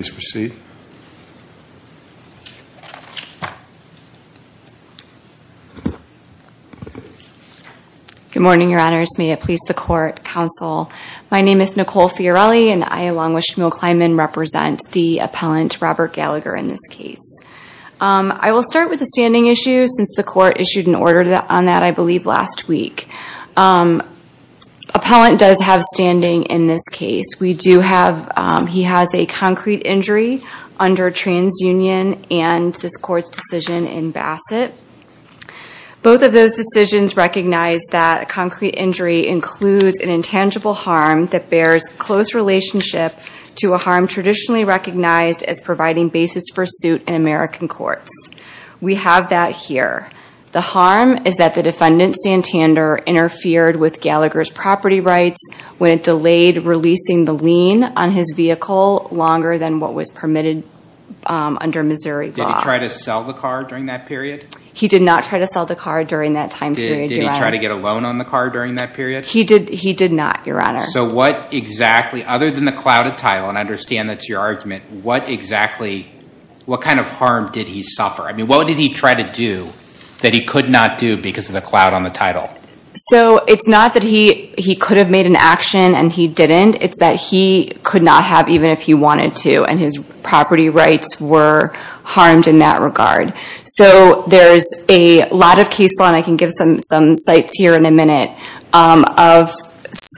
Good morning, Your Honors. May it please the Court, Counsel. My name is Nicole Fiorelli and I, along with Shmuel Kleinman, represent the appellant Robert Gallagher in this case. I will start with the standing issue since the Court issued an order on that, I believe, last week. Appellant does have standing in this case. He has a concrete injury under TransUnion and this Court's decision in Bassett. Both of those decisions recognize that a concrete injury includes an intangible harm that bears close relationship to a harm traditionally recognized as providing basis for suit in American courts. We have that here. The harm is that the defendant, Santander, interfered with Gallagher's property rights when it delayed releasing the lien on his vehicle longer than what was permitted under Missouri law. Did he try to sell the car during that period? He did not try to sell the car during that time period, Your Honor. Did he try to get a loan on the car during that period? He did not, Your Honor. So what exactly, other than the clouded title, and I understand that's your argument, what exactly, what kind of harm did he suffer? I mean, what did he try to do that he could not do because of the cloud on the title? So it's not that he could have made an action and he didn't. It's that he could not have even if he wanted to and his property rights were harmed in that regard. So there's a lot of case law, and I can give some sites here in a minute, of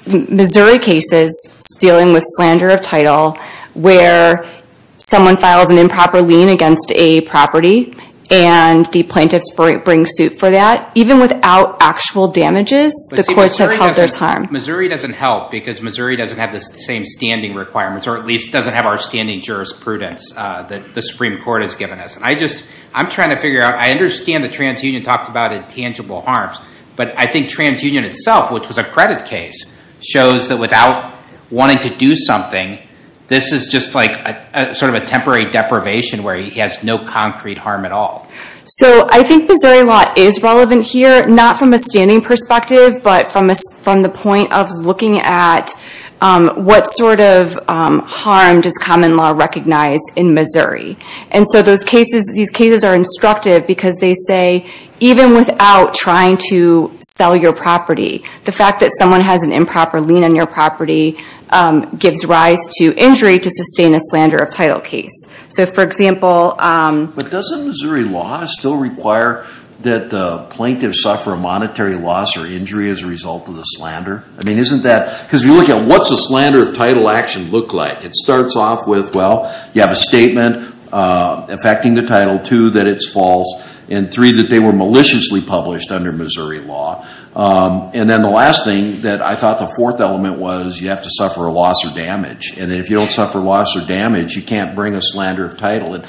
Missouri cases dealing with slander of title where someone files an improper lien against a property and the plaintiffs bring suit for that. Even without actual damages, the courts have held their time. Missouri doesn't help because Missouri doesn't have the same standing requirements, or at least doesn't have our standing jurisprudence that the Supreme Court has given us. I just, I'm trying to figure out, I understand that TransUnion talks about intangible harms, but I think TransUnion itself, which was a credit case, shows that without wanting to do something, this is just like sort of a temporary deprivation where he has no concrete harm at all. So I think Missouri law is relevant here, not from a standing perspective, but from the point of looking at what sort of harm does common law recognize in Missouri. And so those cases, these cases are instructive because they say even without trying to sell your property, the fact that someone has an improper lien on your property gives rise to injury to sustain a slander of title case. So for example... But doesn't Missouri law still require that plaintiffs suffer a monetary loss or injury as a result of the slander? Because if you look at what's a slander of title action look like, it starts off with, well, you have a statement affecting the title, two, that it's false, and three, that they were maliciously published under Missouri law. And then the last thing that I thought the fourth element was, you have to suffer a loss or damage. And if you don't suffer loss or damage, you can't bring a slander of title.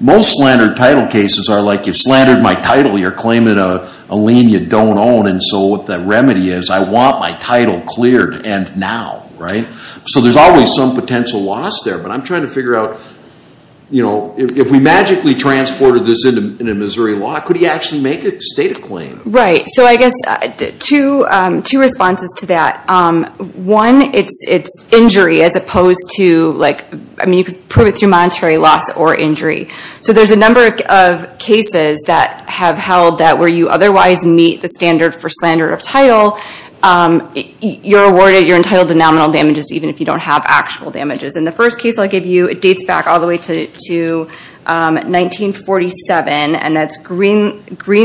Most slander of title cases are like, you slandered my title, you're claiming a lien you don't own, and so what the remedy is, I want my title cleared and now. So there's always some potential loss there, but I'm trying to figure out, if we magically transported this into Missouri law, could he actually make a stated claim? Right. So I guess, two responses to that. One, it's injury as opposed to... I mean, you could prove it through monetary loss or injury. So there's a number of cases that have held that where you otherwise meet the standard for slander of title, you're awarded your entitled to nominal damages even if you don't have actual damages. And the first case I'll give you, it dates back all the way to 1947, and that's Green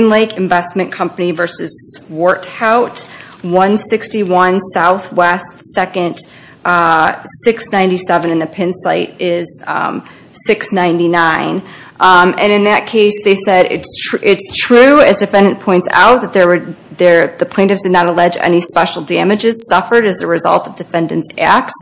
Lake Investment Company v. Swarthout, 161 Southwest 2nd, 697. And the pin site is 699. And in that case, they said, it's true, as the defendant points out, that the plaintiffs did not allege any special damages suffered as a result of defendant's acts.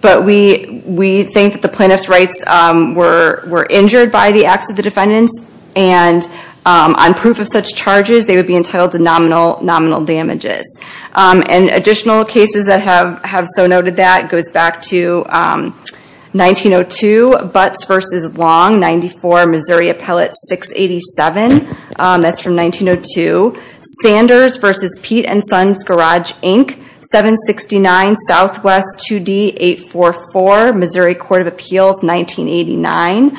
But we think that the plaintiff's rights were injured by the acts of the defendants, and on proof of such charges, they would be entitled to nominal damages. And additional cases that have so noted that goes back to 1902, Butts v. Long, 94 Missouri Appellate 687. That's from 1902. Sanders v. Pete & Sons Garage, Inc., 769 Southwest 2D 844, Missouri Court of Appeals, 1989.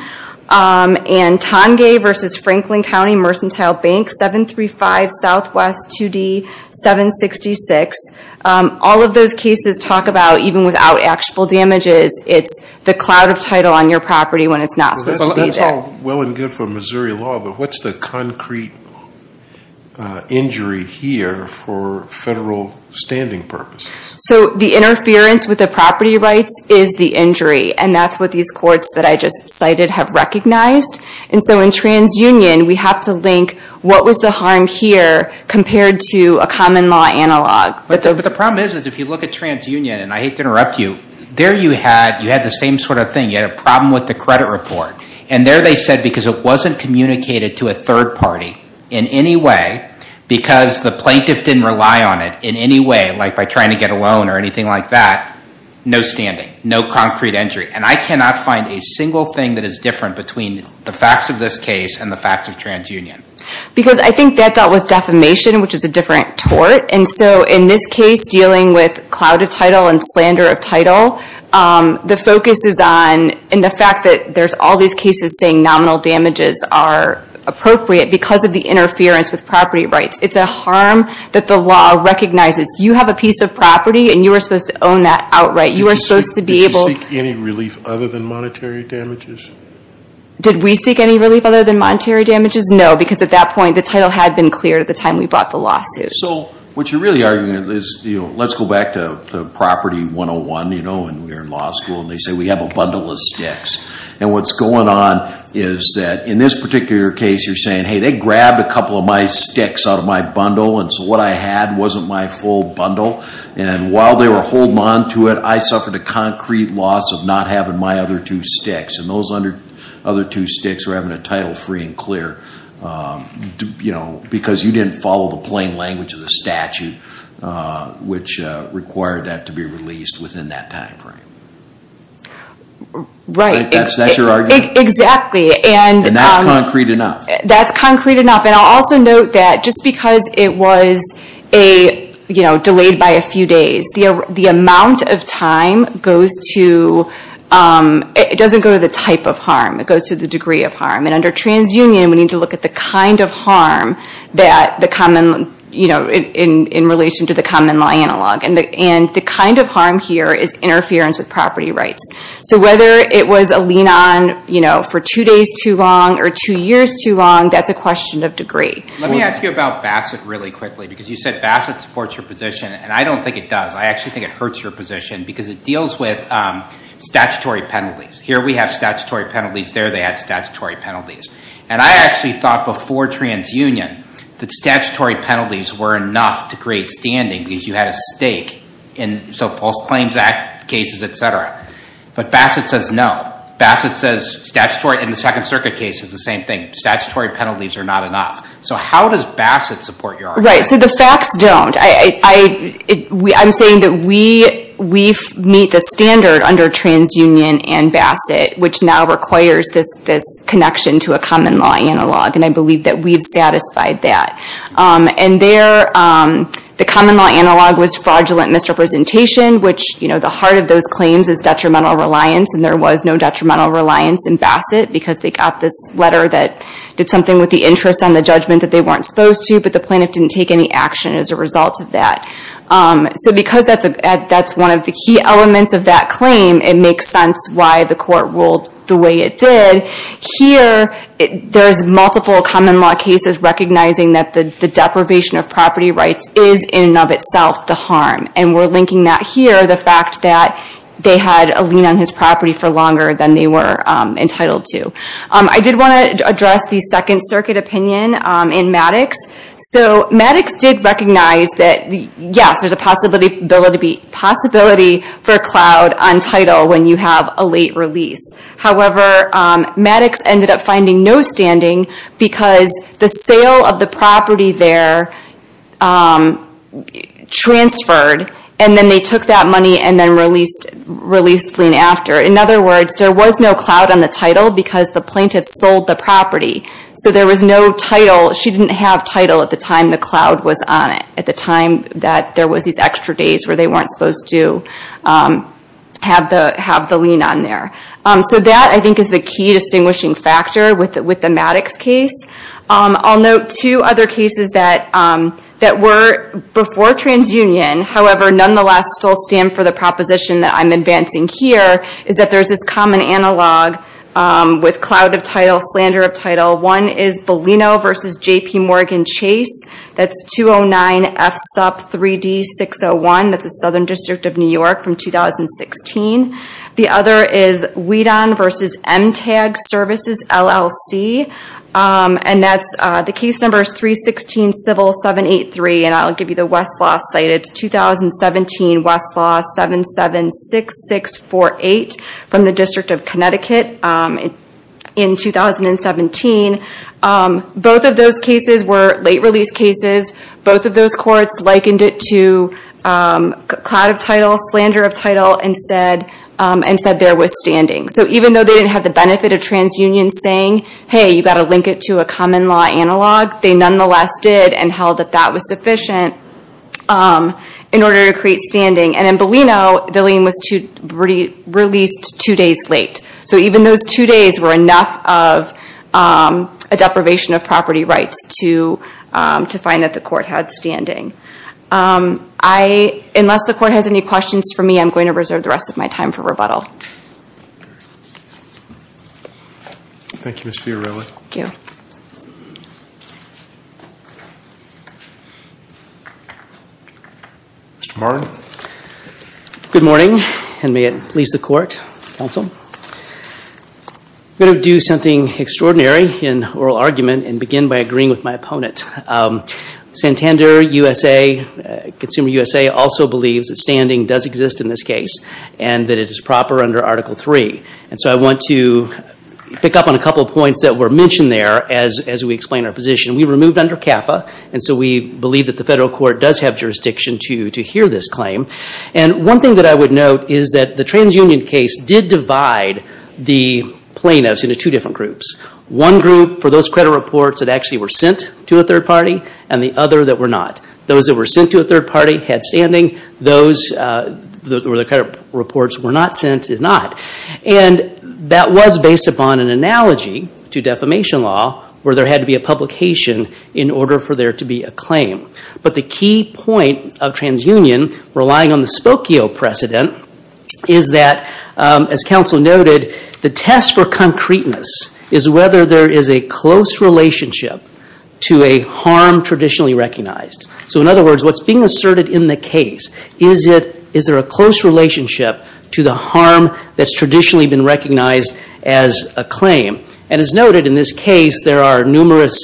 And Tange v. Franklin County Mercantile Bank, 735 Southwest 2D 766. All of those cases talk about, even without actual damages, it's the cloud of title on your property when it's not supposed to be there. So that's all well and good for Missouri law, but what's the concrete injury here for federal standing purposes? So the interference with the property rights is the injury, and that's what these courts that I just cited have recognized. And so in TransUnion, we have to link, what was the harm here compared to a common law analog? But the problem is if you look at TransUnion, and I hate to interrupt you, there you had the same sort of thing. You had a problem with the credit report. And there they said because it wasn't communicated to a third party in any way, because the plaintiff didn't rely on it in any way, like by trying to get a loan or anything like that, no standing, no concrete injury. And I cannot find a single thing that is different between the facts of this case and the facts of TransUnion. Because I think that dealt with defamation, which is a different tort. And so in this case, dealing with cloud of title and slander of title, the focus is on, and the fact that there's all these cases saying nominal damages are appropriate because of the interference with property rights. It's a harm that the law recognizes. You have a piece of property, and you are supposed to own that outright. You are supposed to be able- Did you seek any relief other than monetary damages? Did we seek any relief other than monetary damages? No, because at that point, the title had been cleared at the time we brought the lawsuit. So what you're really arguing is let's go back to the property 101, you know, when we were in law school. And they say we have a bundle of sticks. And what's going on is that in this particular case, you're saying, hey, they grabbed a couple of my sticks out of my bundle. And so what I had wasn't my full bundle. And while they were holding on to it, I suffered a concrete loss of not having my other two sticks. And those other two sticks were having a title free and clear, you know, because you didn't follow the plain language of the statute, which required that to be released within that timeframe. Right. That's your argument? Exactly. And that's concrete enough? That's concrete enough. And I'll also note that just because it was, you know, delayed by a few days, the amount of time goes to, it doesn't go to the type of harm. It goes to the degree of harm. And under transunion, we need to look at the kind of harm that the common, you know, in relation to the common law analog. And the kind of harm here is interference with property rights. So whether it was a lean on, you know, for two days too long or two years too long, that's a question of degree. Let me ask you about Bassett really quickly, because you said Bassett supports your position. And I don't think it does. I actually think it hurts your position because it deals with statutory penalties. Here we have statutory penalties. There they had statutory penalties. And I actually thought before transunion that statutory penalties were enough to create standing because you had a stake. And so false claims act cases, et cetera. But Bassett says no. Bassett says statutory in the Second Circuit case is the same thing. Statutory penalties are not enough. So how does Bassett support your argument? Right. So the facts don't. I'm saying that we meet the standard under transunion and Bassett, which now requires this connection to a common law analog. And I believe that we've satisfied that. And there, the common law analog was fraudulent misrepresentation, which, you know, the heart of those claims is detrimental reliance. And there was no detrimental reliance in Bassett because they got this letter that did something with the interest on the judgment that they weren't supposed to. But the plaintiff didn't take any action as a result of that. So because that's one of the key elements of that claim, it makes sense why the court ruled the way it did. Here, there's multiple common law cases recognizing that the deprivation of property rights is in and of itself the harm. And we're linking that here, the fact that they had a lien on his property for longer than they were entitled to. I did want to address the Second Circuit opinion in Maddox. So Maddox did recognize that, yes, there's a possibility for a cloud on title when you have a late release. However, Maddox ended up finding no standing because the sale of the property there transferred. And then they took that money and then released the lien after. In other words, there was no cloud on the title because the plaintiff sold the property. So there was no title. She didn't have title at the time the cloud was on it, at the time that there was these extra days where they weren't supposed to have the lien on there. So that, I think, is the key distinguishing factor with the Maddox case. I'll note two other cases that were before TransUnion, however, nonetheless still stand for the proposition that I'm advancing here, is that there's this common analog with cloud of title, slander of title. One is Bolino v. J.P. Morgan Chase. That's 209 FSUP 3D601. That's the Southern District of New York from 2016. The other is Weedon v. MTAG Services, LLC. And the case number is 316 Civil 783. And I'll give you the Westlaw site. It's 2017 Westlaw 776648 from the District of Connecticut in 2017. Both of those cases were late release cases. Both of those courts likened it to cloud of title, slander of title, and said there was standing. So even though they didn't have the benefit of TransUnion saying, hey, you've got to link it to a common law analog, they nonetheless did and held that that was sufficient in order to create standing. And in Bolino, the lien was released two days late. So even those two days were enough of a deprivation of property rights to find that the court had standing. Unless the court has any questions for me, I'm going to reserve the rest of my time for rebuttal. Thank you, Ms. Fiorillo. Thank you. Mr. Martin. Good morning, and may it please the court, counsel. I'm going to do something extraordinary in oral argument and begin by agreeing with my opponent. Santander USA, Consumer USA, also believes that standing does exist in this case and that it is proper under Article III. And so I want to pick up on a couple of points that were mentioned there as we explain our position. We were moved under CAFA, and so we believe that the federal court does have jurisdiction to hear this claim. And one thing that I would note is that the TransUnion case did divide the plaintiffs into two different groups, one group for those credit reports that actually were sent to a third party and the other that were not. Those that were sent to a third party had standing. Those where the credit reports were not sent did not. And that was based upon an analogy to defamation law where there had to be a publication in order for there to be a claim. But the key point of TransUnion relying on the Spokio precedent is that, as counsel noted, the test for concreteness is whether there is a close relationship to a harm traditionally recognized. So in other words, what's being asserted in the case, is there a close relationship to the harm that's traditionally been recognized as a claim? And as noted in this case, there are numerous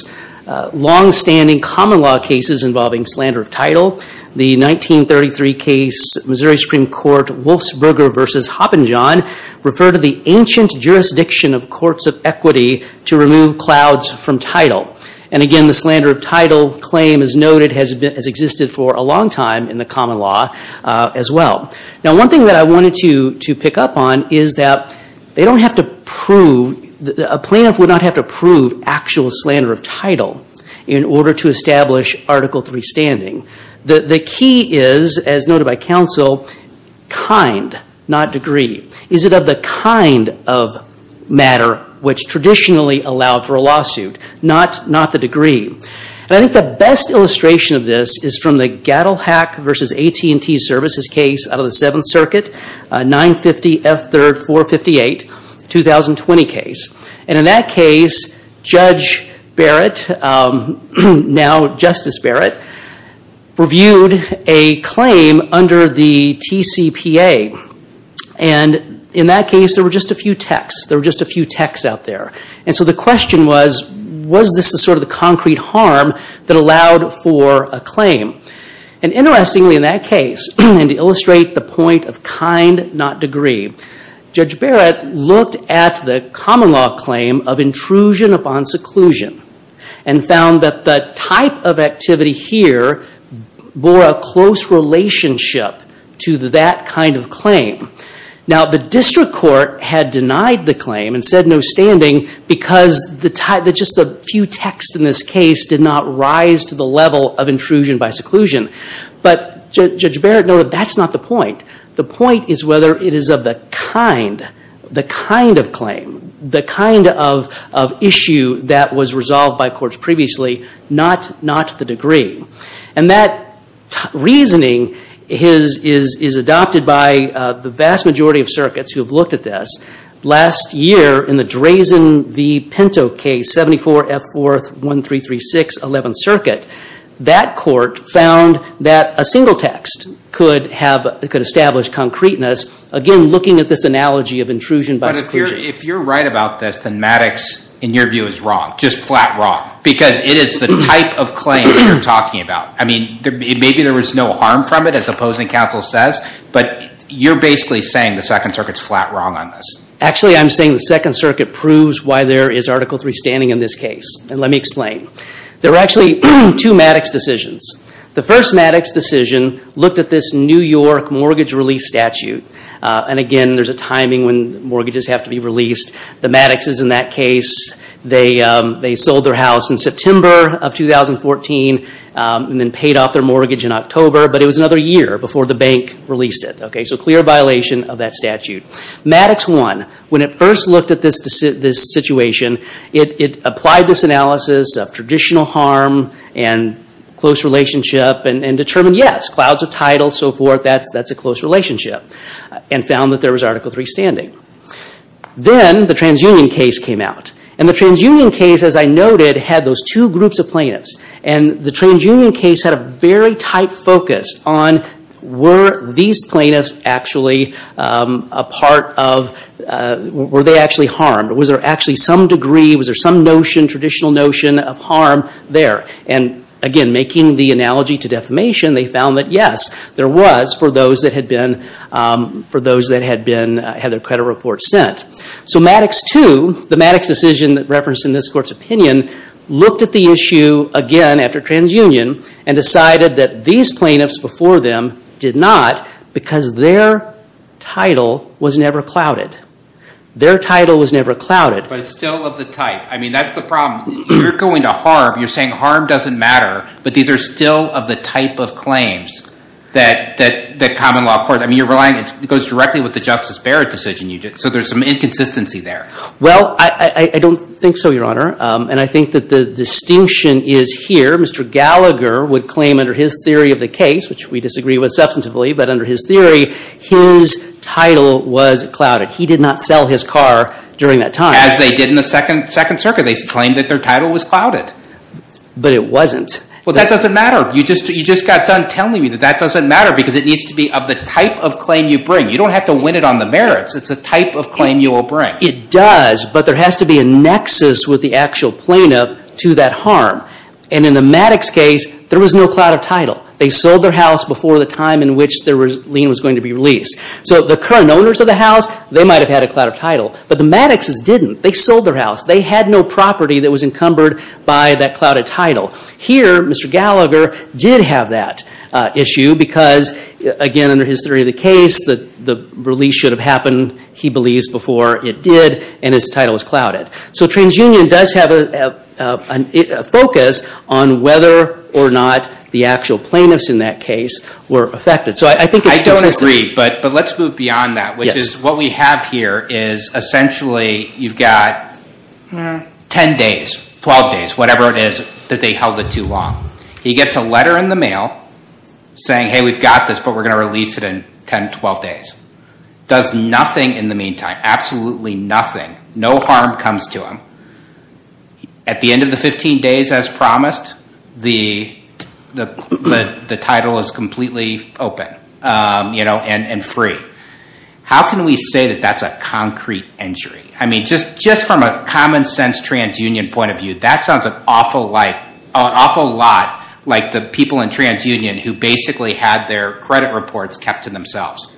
longstanding common law cases involving slander of title. The 1933 case, Missouri Supreme Court, Wolfsburger v. Hoppenjohn, referred to the ancient jurisdiction of courts of equity to remove clouds from title. And again, the slander of title claim, as noted, has existed for a long time in the common law as well. Now, one thing that I wanted to pick up on is that they don't have to prove, a plaintiff would not have to prove actual slander of title in order to establish Article III standing. The key is, as noted by counsel, kind, not degree. Is it of the kind of matter which traditionally allowed for a lawsuit, not the degree? And I think the best illustration of this is from the Gaddell-Hack v. AT&T Services case out of the Seventh Circuit, 950 F. 3rd 458, 2020 case. And in that case, Judge Barrett, now Justice Barrett, reviewed a claim under the TCPA. And in that case, there were just a few texts. There were just a few texts out there. And so the question was, was this the sort of the concrete harm that allowed for a claim? And interestingly, in that case, and to illustrate the point of kind, not degree, Judge Barrett looked at the common law claim of intrusion upon seclusion and found that the type of activity here bore a close relationship to that kind of claim. Now, the district court had denied the claim and said no standing because just the few texts in this case did not rise to the level of intrusion by seclusion. But Judge Barrett noted that's not the point. The point is whether it is of the kind, the kind of claim, the kind of issue that was resolved by courts previously, not the degree. And that reasoning is adopted by the vast majority of circuits who have looked at this. Last year, in the Drazen v. Pinto case, 74 F. 4th 1336, 11th Circuit, that court found that a single text could have, could establish concreteness, again, looking at this analogy of intrusion by seclusion. But if you're right about this, then Maddox, in your view, is wrong, just flat wrong, because it is the type of claim that you're talking about. I mean, maybe there was no harm from it, as opposing counsel says, but you're basically saying the Second Circuit's flat wrong on this. Actually, I'm saying the Second Circuit proves why there is Article III standing in this case. And let me explain. There are actually two Maddox decisions. The first Maddox decision looked at this New York mortgage release statute. And again, there's a timing when mortgages have to be released. The Maddoxes in that case, they sold their house in September of 2014 and then paid off their mortgage in October. But it was another year before the bank released it. So clear violation of that statute. Maddox 1, when it first looked at this situation, it applied this analysis of traditional harm and close relationship and determined, yes, clouds of title, so forth, that's a close relationship, and found that there was Article III standing. Then the TransUnion case came out. And the TransUnion case, as I noted, had those two groups of plaintiffs. And the TransUnion case had a very tight focus on, were these plaintiffs actually a part of, were they actually harmed? Was there actually some degree, was there some notion, traditional notion of harm there? And again, making the analogy to defamation, they found that, yes, there was for those that had their credit report sent. So Maddox 2, the Maddox decision referenced in this Court's opinion, looked at the issue again after TransUnion and decided that these plaintiffs before them did not because their title was never clouded. Their title was never clouded. But it's still of the type. I mean, that's the problem. You're going to harm. You're saying harm doesn't matter. But these are still of the type of claims that common law court, I mean, you're relying, it goes directly with the Justice Barrett decision. So there's some inconsistency there. Well, I don't think so, Your Honor. And I think that the distinction is here. Mr. Gallagher would claim under his theory of the case, which we disagree with substantively, but under his theory, his title was clouded. He did not sell his car during that time. As they did in the Second Circuit. They claimed that their title was clouded. But it wasn't. Well, that doesn't matter. You just got done telling me that that doesn't matter because it needs to be of the type of claim you bring. You don't have to win it on the merits. It's the type of claim you will bring. It does, but there has to be a nexus with the actual plaintiff to that harm. And in the Maddox case, there was no cloud of title. They sold their house before the time in which the lien was going to be released. So the current owners of the house, they might have had a cloud of title. But the Maddoxes didn't. They sold their house. They had no property that was encumbered by that clouded title. Here, Mr. Gallagher did have that issue because, again, under his theory of the case, the release should have happened, he believes, before it did, and his title was clouded. So TransUnion does have a focus on whether or not the actual plaintiffs in that case were affected. So I think it's consistent. I don't agree, but let's move beyond that, which is what we have here is essentially you've got 10 days, 12 days, whatever it is that they held it too long. He gets a letter in the mail saying, hey, we've got this, but we're going to release it in 10, 12 days. Does nothing in the meantime, absolutely nothing. No harm comes to him. At the end of the 15 days, as promised, the title is completely open and free. How can we say that that's a concrete injury? I mean, just from a common-sense TransUnion point of view, that sounds an awful lot like the people in TransUnion who basically had their credit reports kept to themselves.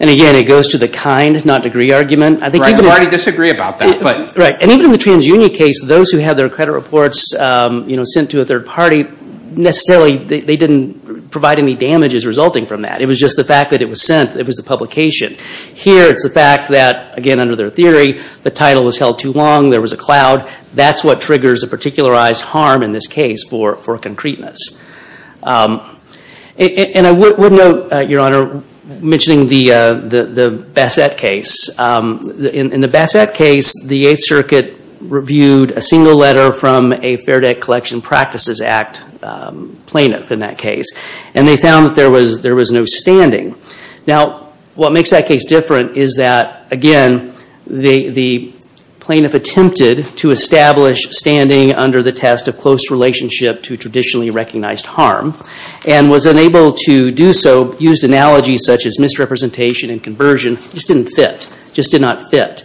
And, again, it goes to the kind, not degree, argument. Right, I already disagree about that. Right. And even in the TransUnion case, those who had their credit reports sent to a third party, necessarily they didn't provide any damages resulting from that. It was just the fact that it was sent. It was the publication. Here it's the fact that, again, under their theory, the title was held too long, there was a cloud. That's what triggers a particularized harm in this case for concreteness. And I would note, Your Honor, mentioning the Bassett case. In the Bassett case, the Eighth Circuit reviewed a single letter from a Fair Debt Collection Practices Act plaintiff in that case. And they found that there was no standing. Now, what makes that case different is that, again, the plaintiff attempted to establish standing under the test of close relationship to traditionally recognized harm and was unable to do so. So used analogies such as misrepresentation and conversion just didn't fit, just did not fit.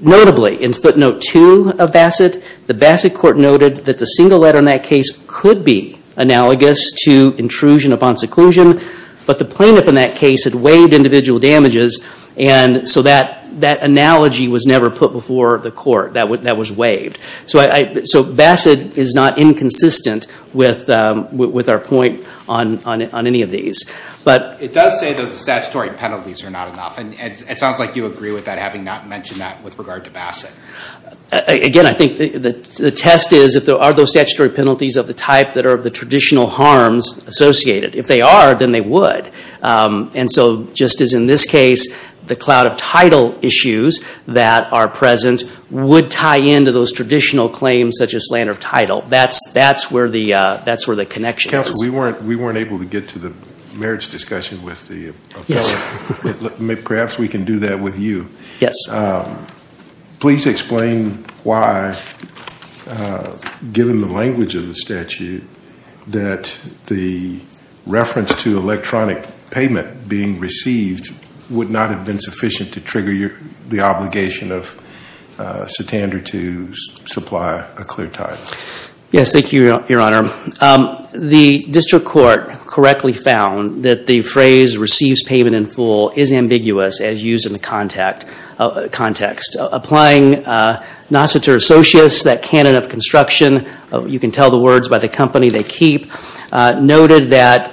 Notably, in footnote two of Bassett, the Bassett court noted that the single letter in that case could be analogous to intrusion upon seclusion, but the plaintiff in that case had waived individual damages, and so that analogy was never put before the court. That was waived. So Bassett is not inconsistent with our point on any of these. It does say that the statutory penalties are not enough, and it sounds like you agree with that, having not mentioned that with regard to Bassett. Again, I think the test is, are those statutory penalties of the type that are the traditional harms associated? If they are, then they would. And so just as in this case, the cloud of title issues that are present would tie into those traditional claims such as slander of title. That's where the connection is. Counsel, we weren't able to get to the merits discussion with the appellate. Perhaps we can do that with you. Yes. Please explain why, given the language of the statute, that the reference to electronic payment being received would not have been sufficient to trigger the obligation of Satandar to supply a clear title. Yes. Thank you, Your Honor. The district court correctly found that the phrase, receives payment in full, is ambiguous as used in the context. Applying Nassiter Associates, that canon of construction, you can tell the words by the company they keep, noted that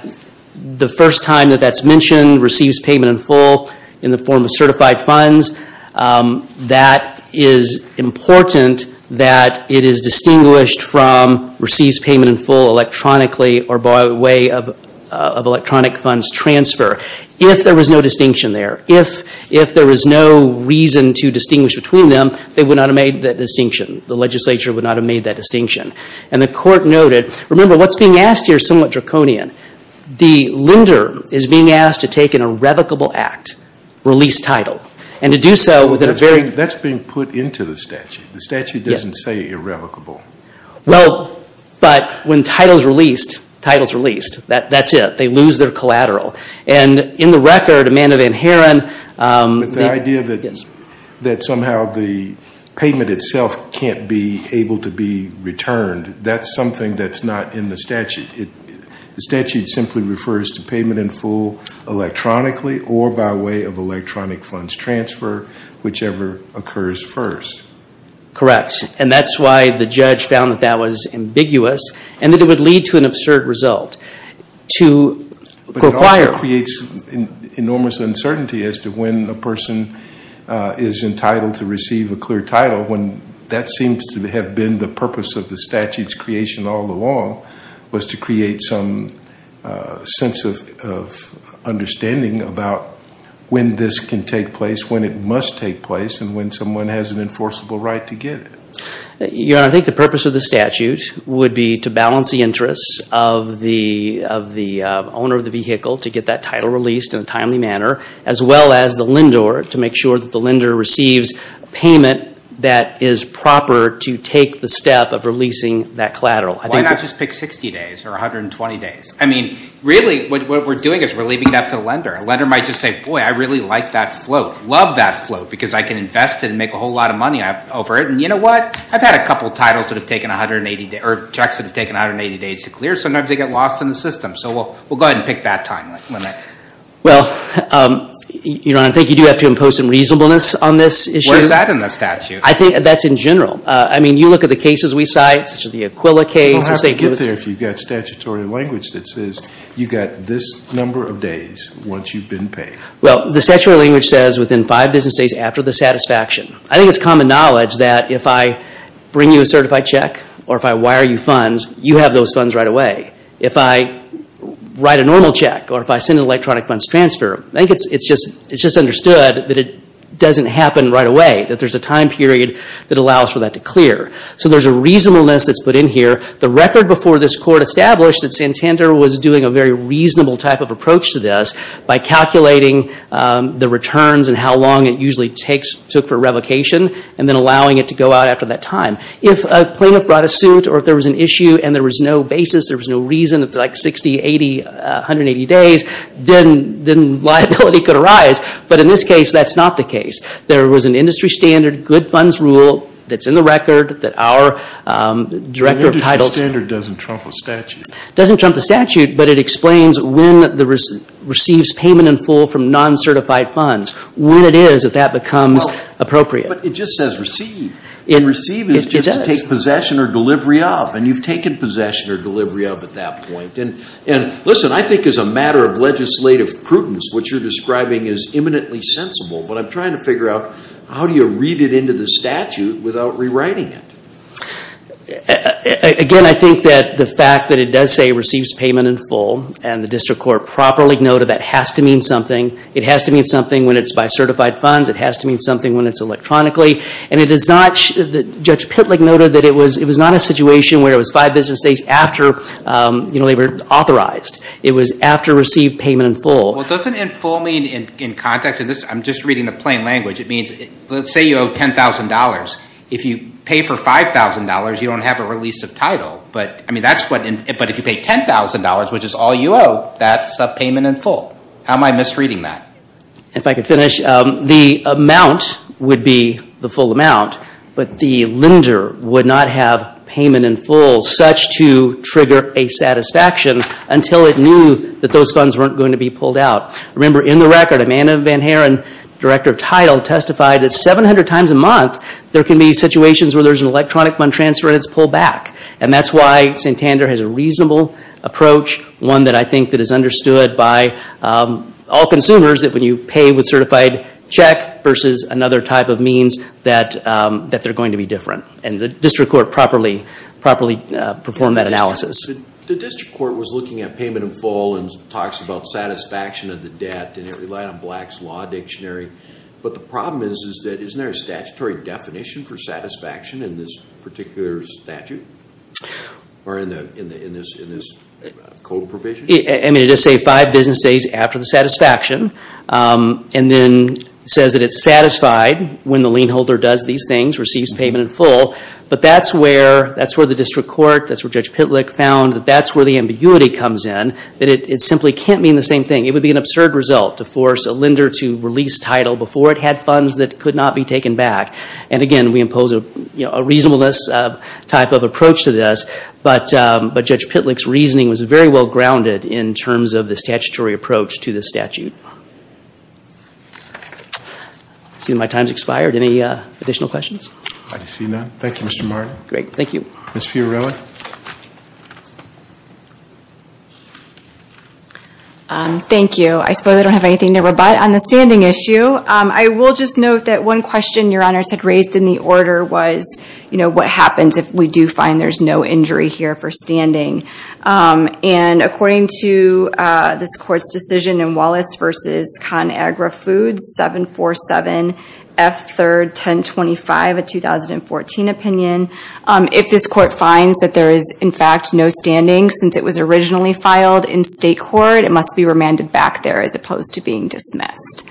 the first time that that's mentioned, receives payment in full in the form of certified funds. That is important that it is distinguished from receives payment in full electronically or by way of electronic funds transfer. If there was no distinction there, if there was no reason to distinguish between them, they would not have made that distinction. The legislature would not have made that distinction. And the court noted, remember what's being asked here is somewhat draconian. The lender is being asked to take an irrevocable act, release title. And to do so with a very- That's being put into the statute. The statute doesn't say irrevocable. Well, but when title's released, title's released. That's it. They lose their collateral. And in the record, Amanda Van Haren- But the idea that somehow the payment itself can't be able to be returned, that's something that's not in the statute. The statute simply refers to payment in full electronically or by way of electronic funds transfer, whichever occurs first. Correct. And that's why the judge found that that was ambiguous and that it would lead to an absurd result. But it also creates enormous uncertainty as to when a person is entitled to receive a clear title when that seems to have been the purpose of the statute's creation all along was to create some sense of understanding about when this can take place, when it must take place, and when someone has an enforceable right to get it. Your Honor, I think the purpose of the statute would be to balance the interests of the owner of the vehicle to get that title released in a timely manner as well as the lender to make sure that the lender receives payment that is proper to take the step of releasing that collateral. Why not just pick 60 days or 120 days? I mean, really what we're doing is we're leaving it up to the lender. A lender might just say, Boy, I really like that float, love that float, because I can invest it and make a whole lot of money over it. And you know what? I've had a couple of titles that have taken 180 days or checks that have taken 180 days to clear. Sometimes they get lost in the system. So we'll go ahead and pick that time limit. Well, Your Honor, I think you do have to impose some reasonableness on this issue. Where is that in the statute? I think that's in general. I mean, you look at the cases we cite, such as the Aquila case. You don't have to get there if you've got statutory language that says you've got this number of days once you've been paid. Well, the statutory language says within five business days after the satisfaction. I think it's common knowledge that if I bring you a certified check or if I wire you funds, you have those funds right away. If I write a normal check or if I send an electronic funds transfer, I think it's just understood that it doesn't happen right away, that there's a time period that allows for that to clear. So there's a reasonableness that's put in here. The record before this court established that Santander was doing a very reasonable type of approach to this by calculating the returns and how long it usually took for revocation and then allowing it to go out after that time. If a plaintiff brought a suit or if there was an issue and there was no basis, there was no reason, like 60, 80, 180 days, then liability could arise. But in this case, that's not the case. There was an industry standard, good funds rule that's in the record that our director of titles… The industry standard doesn't trump a statute. It doesn't trump the statute, but it explains when it receives payment in full from non-certified funds, when it is that that becomes appropriate. But it just says receive. Receive is just to take possession or delivery of. And you've taken possession or delivery of at that point. And listen, I think as a matter of legislative prudence, what you're describing is imminently sensible, but I'm trying to figure out how do you read it into the statute without rewriting it? Again, I think that the fact that it does say receives payment in full and the district court properly noted that has to mean something. It has to mean something when it's by certified funds. It has to mean something when it's electronically. Judge Pitlick noted that it was not a situation where it was five business days after they were authorized. It was after receive payment in full. Well, doesn't in full mean in context? I'm just reading the plain language. It means let's say you owe $10,000. If you pay for $5,000, you don't have a release of title. But if you pay $10,000, which is all you owe, that's a payment in full. How am I misreading that? If I could finish, the amount would be the full amount, but the lender would not have payment in full such to trigger a satisfaction until it knew that those funds weren't going to be pulled out. Remember, in the record, Amanda Van Haren, director of title, testified that 700 times a month there can be situations where there's an electronic fund transfer and it's pulled back, and that's why Santander has a reasonable approach, one that I think that is understood by all consumers, that when you pay with certified check versus another type of means, that they're going to be different. And the district court properly performed that analysis. The district court was looking at payment in full and talks about satisfaction of the debt, and it relied on Black's Law Dictionary. But the problem is that isn't there a statutory definition for satisfaction in this particular statute or in this code provision? I mean, it does say five business days after the satisfaction and then says that it's satisfied when the lien holder does these things, receives payment in full, but that's where the district court, that's where Judge Pitlick found, that that's where the ambiguity comes in, that it simply can't mean the same thing. It would be an absurd result to force a lender to release title before it had funds that could not be taken back. And again, we impose a reasonableness type of approach to this, but Judge Pitlick's reasoning was very well grounded in terms of the statutory approach to this statute. I see my time's expired. Any additional questions? I see none. Thank you, Mr. Martin. Great, thank you. Ms. Fiorella? Thank you. I suppose I don't have anything to rebut. On the standing issue, I will just note that one question, Your Honors, had raised in the order was, you know, what happens if we do find there's no injury here for standing? And according to this Court's decision in Wallace v. ConAgra Foods, 747F31025, a 2014 opinion, if this Court finds that there is, in fact, no standing since it was originally filed in state court, it must be remanded back there as opposed to being dismissed.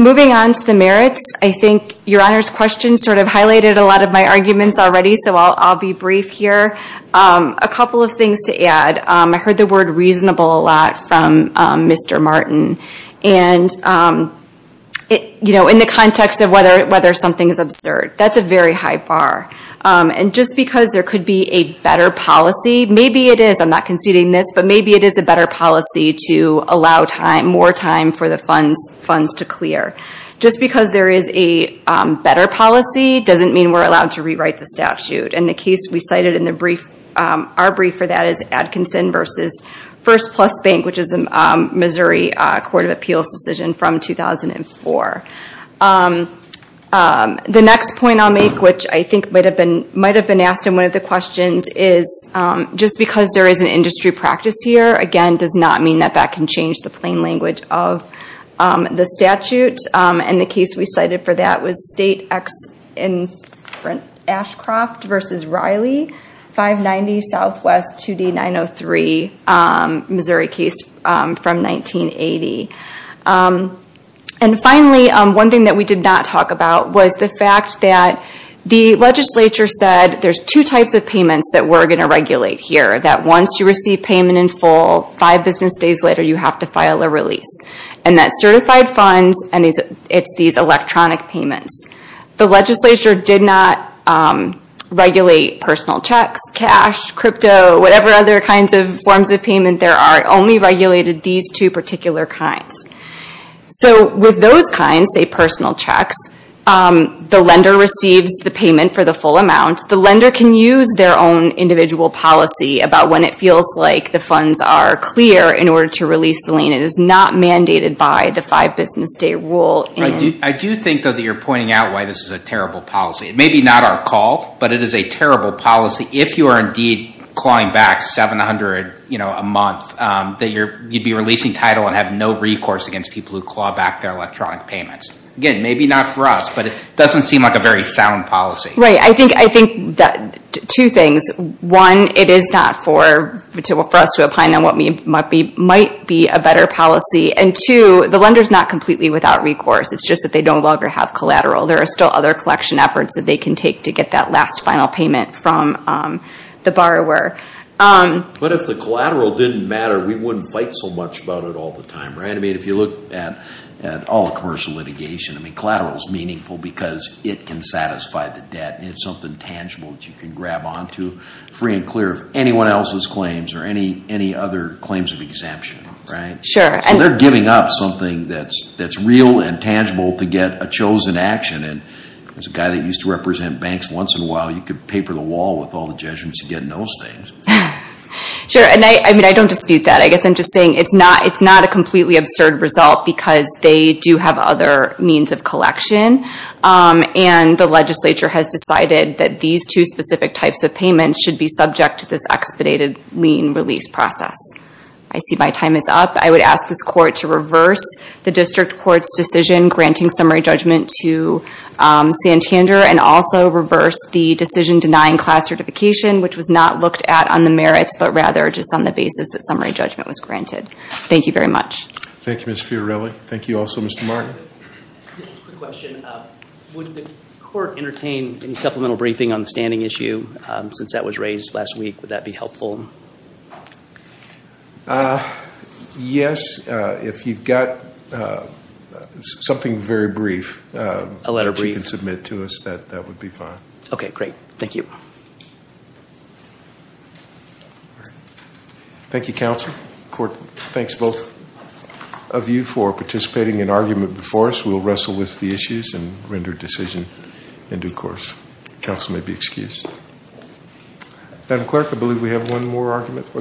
Moving on to the merits, I think Your Honors' question sort of highlighted a lot of my arguments already, so I'll be brief here. A couple of things to add. I heard the word reasonable a lot from Mr. Martin. And, you know, in the context of whether something is absurd, that's a very high bar. And just because there could be a better policy, maybe it is, I'm not conceding this, but maybe it is a better policy to allow time, more time for the funds to clear. Just because there is a better policy doesn't mean we're allowed to rewrite the statute. And the case we cited in our brief for that is Atkinson v. First Plus Bank, which is a Missouri Court of Appeals decision from 2004. The next point I'll make, which I think might have been asked in one of the questions, is just because there is an industry practice here, again, does not mean that that can change the plain language of the statute. And the case we cited for that was State in Ashcroft v. Riley, 590 SW 2D 903, Missouri case from 1980. And finally, one thing that we did not talk about was the fact that the legislature said there's two types of payments that we're going to regulate here, that once you receive payment in full, five business days later you have to file a release. And that's certified funds and it's these electronic payments. The legislature did not regulate personal checks, cash, crypto, whatever other kinds of forms of payment there are, only regulated these two particular kinds. So with those kinds, say personal checks, the lender receives the payment for the full amount. The lender can use their own individual policy about when it feels like the funds are clear in order to release the lien. It is not mandated by the five business day rule. I do think, though, that you're pointing out why this is a terrible policy. It may be not our call, but it is a terrible policy if you are indeed clawing back $700 a month, that you'd be releasing title and have no recourse against people who claw back their electronic payments. Again, maybe not for us, but it doesn't seem like a very sound policy. I think two things. One, it is not for us to opine on what might be a better policy. And two, the lender is not completely without recourse. It's just that they no longer have collateral. There are still other collection efforts that they can take to get that last final payment from the borrower. But if the collateral didn't matter, we wouldn't fight so much about it all the time, right? I mean, if you look at all the commercial litigation, collateral is meaningful because it can satisfy the debt. It's something tangible that you can grab onto free and clear of anyone else's claims or any other claims of exemption, right? Sure. So they're giving up something that's real and tangible to get a chosen action. As a guy that used to represent banks once in a while, you could paper the wall with all the judgments you get in those things. Sure, and I don't dispute that. I guess I'm just saying it's not a completely absurd result because they do have other means of collection. And the legislature has decided that these two specific types of payments should be subject to this expedited lien release process. I see my time is up. I would ask this court to reverse the district court's decision granting summary judgment to Santander and also reverse the decision denying class certification, which was not looked at on the merits but rather just on the basis that summary judgment was granted. Thank you very much. Thank you, Ms. Fiorelli. Thank you also, Mr. Martin. Quick question. Would the court entertain any supplemental briefing on the standing issue since that was raised last week? Would that be helpful? Yes. If you've got something very brief that you can submit to us, that would be fine. Okay, great. Thank you. Thank you, counsel. Court, thanks both of you for participating in argument before us. We'll wrestle with the issues and render decision in due course. Counsel may be excused. Madam Clerk, I believe we have one more argument.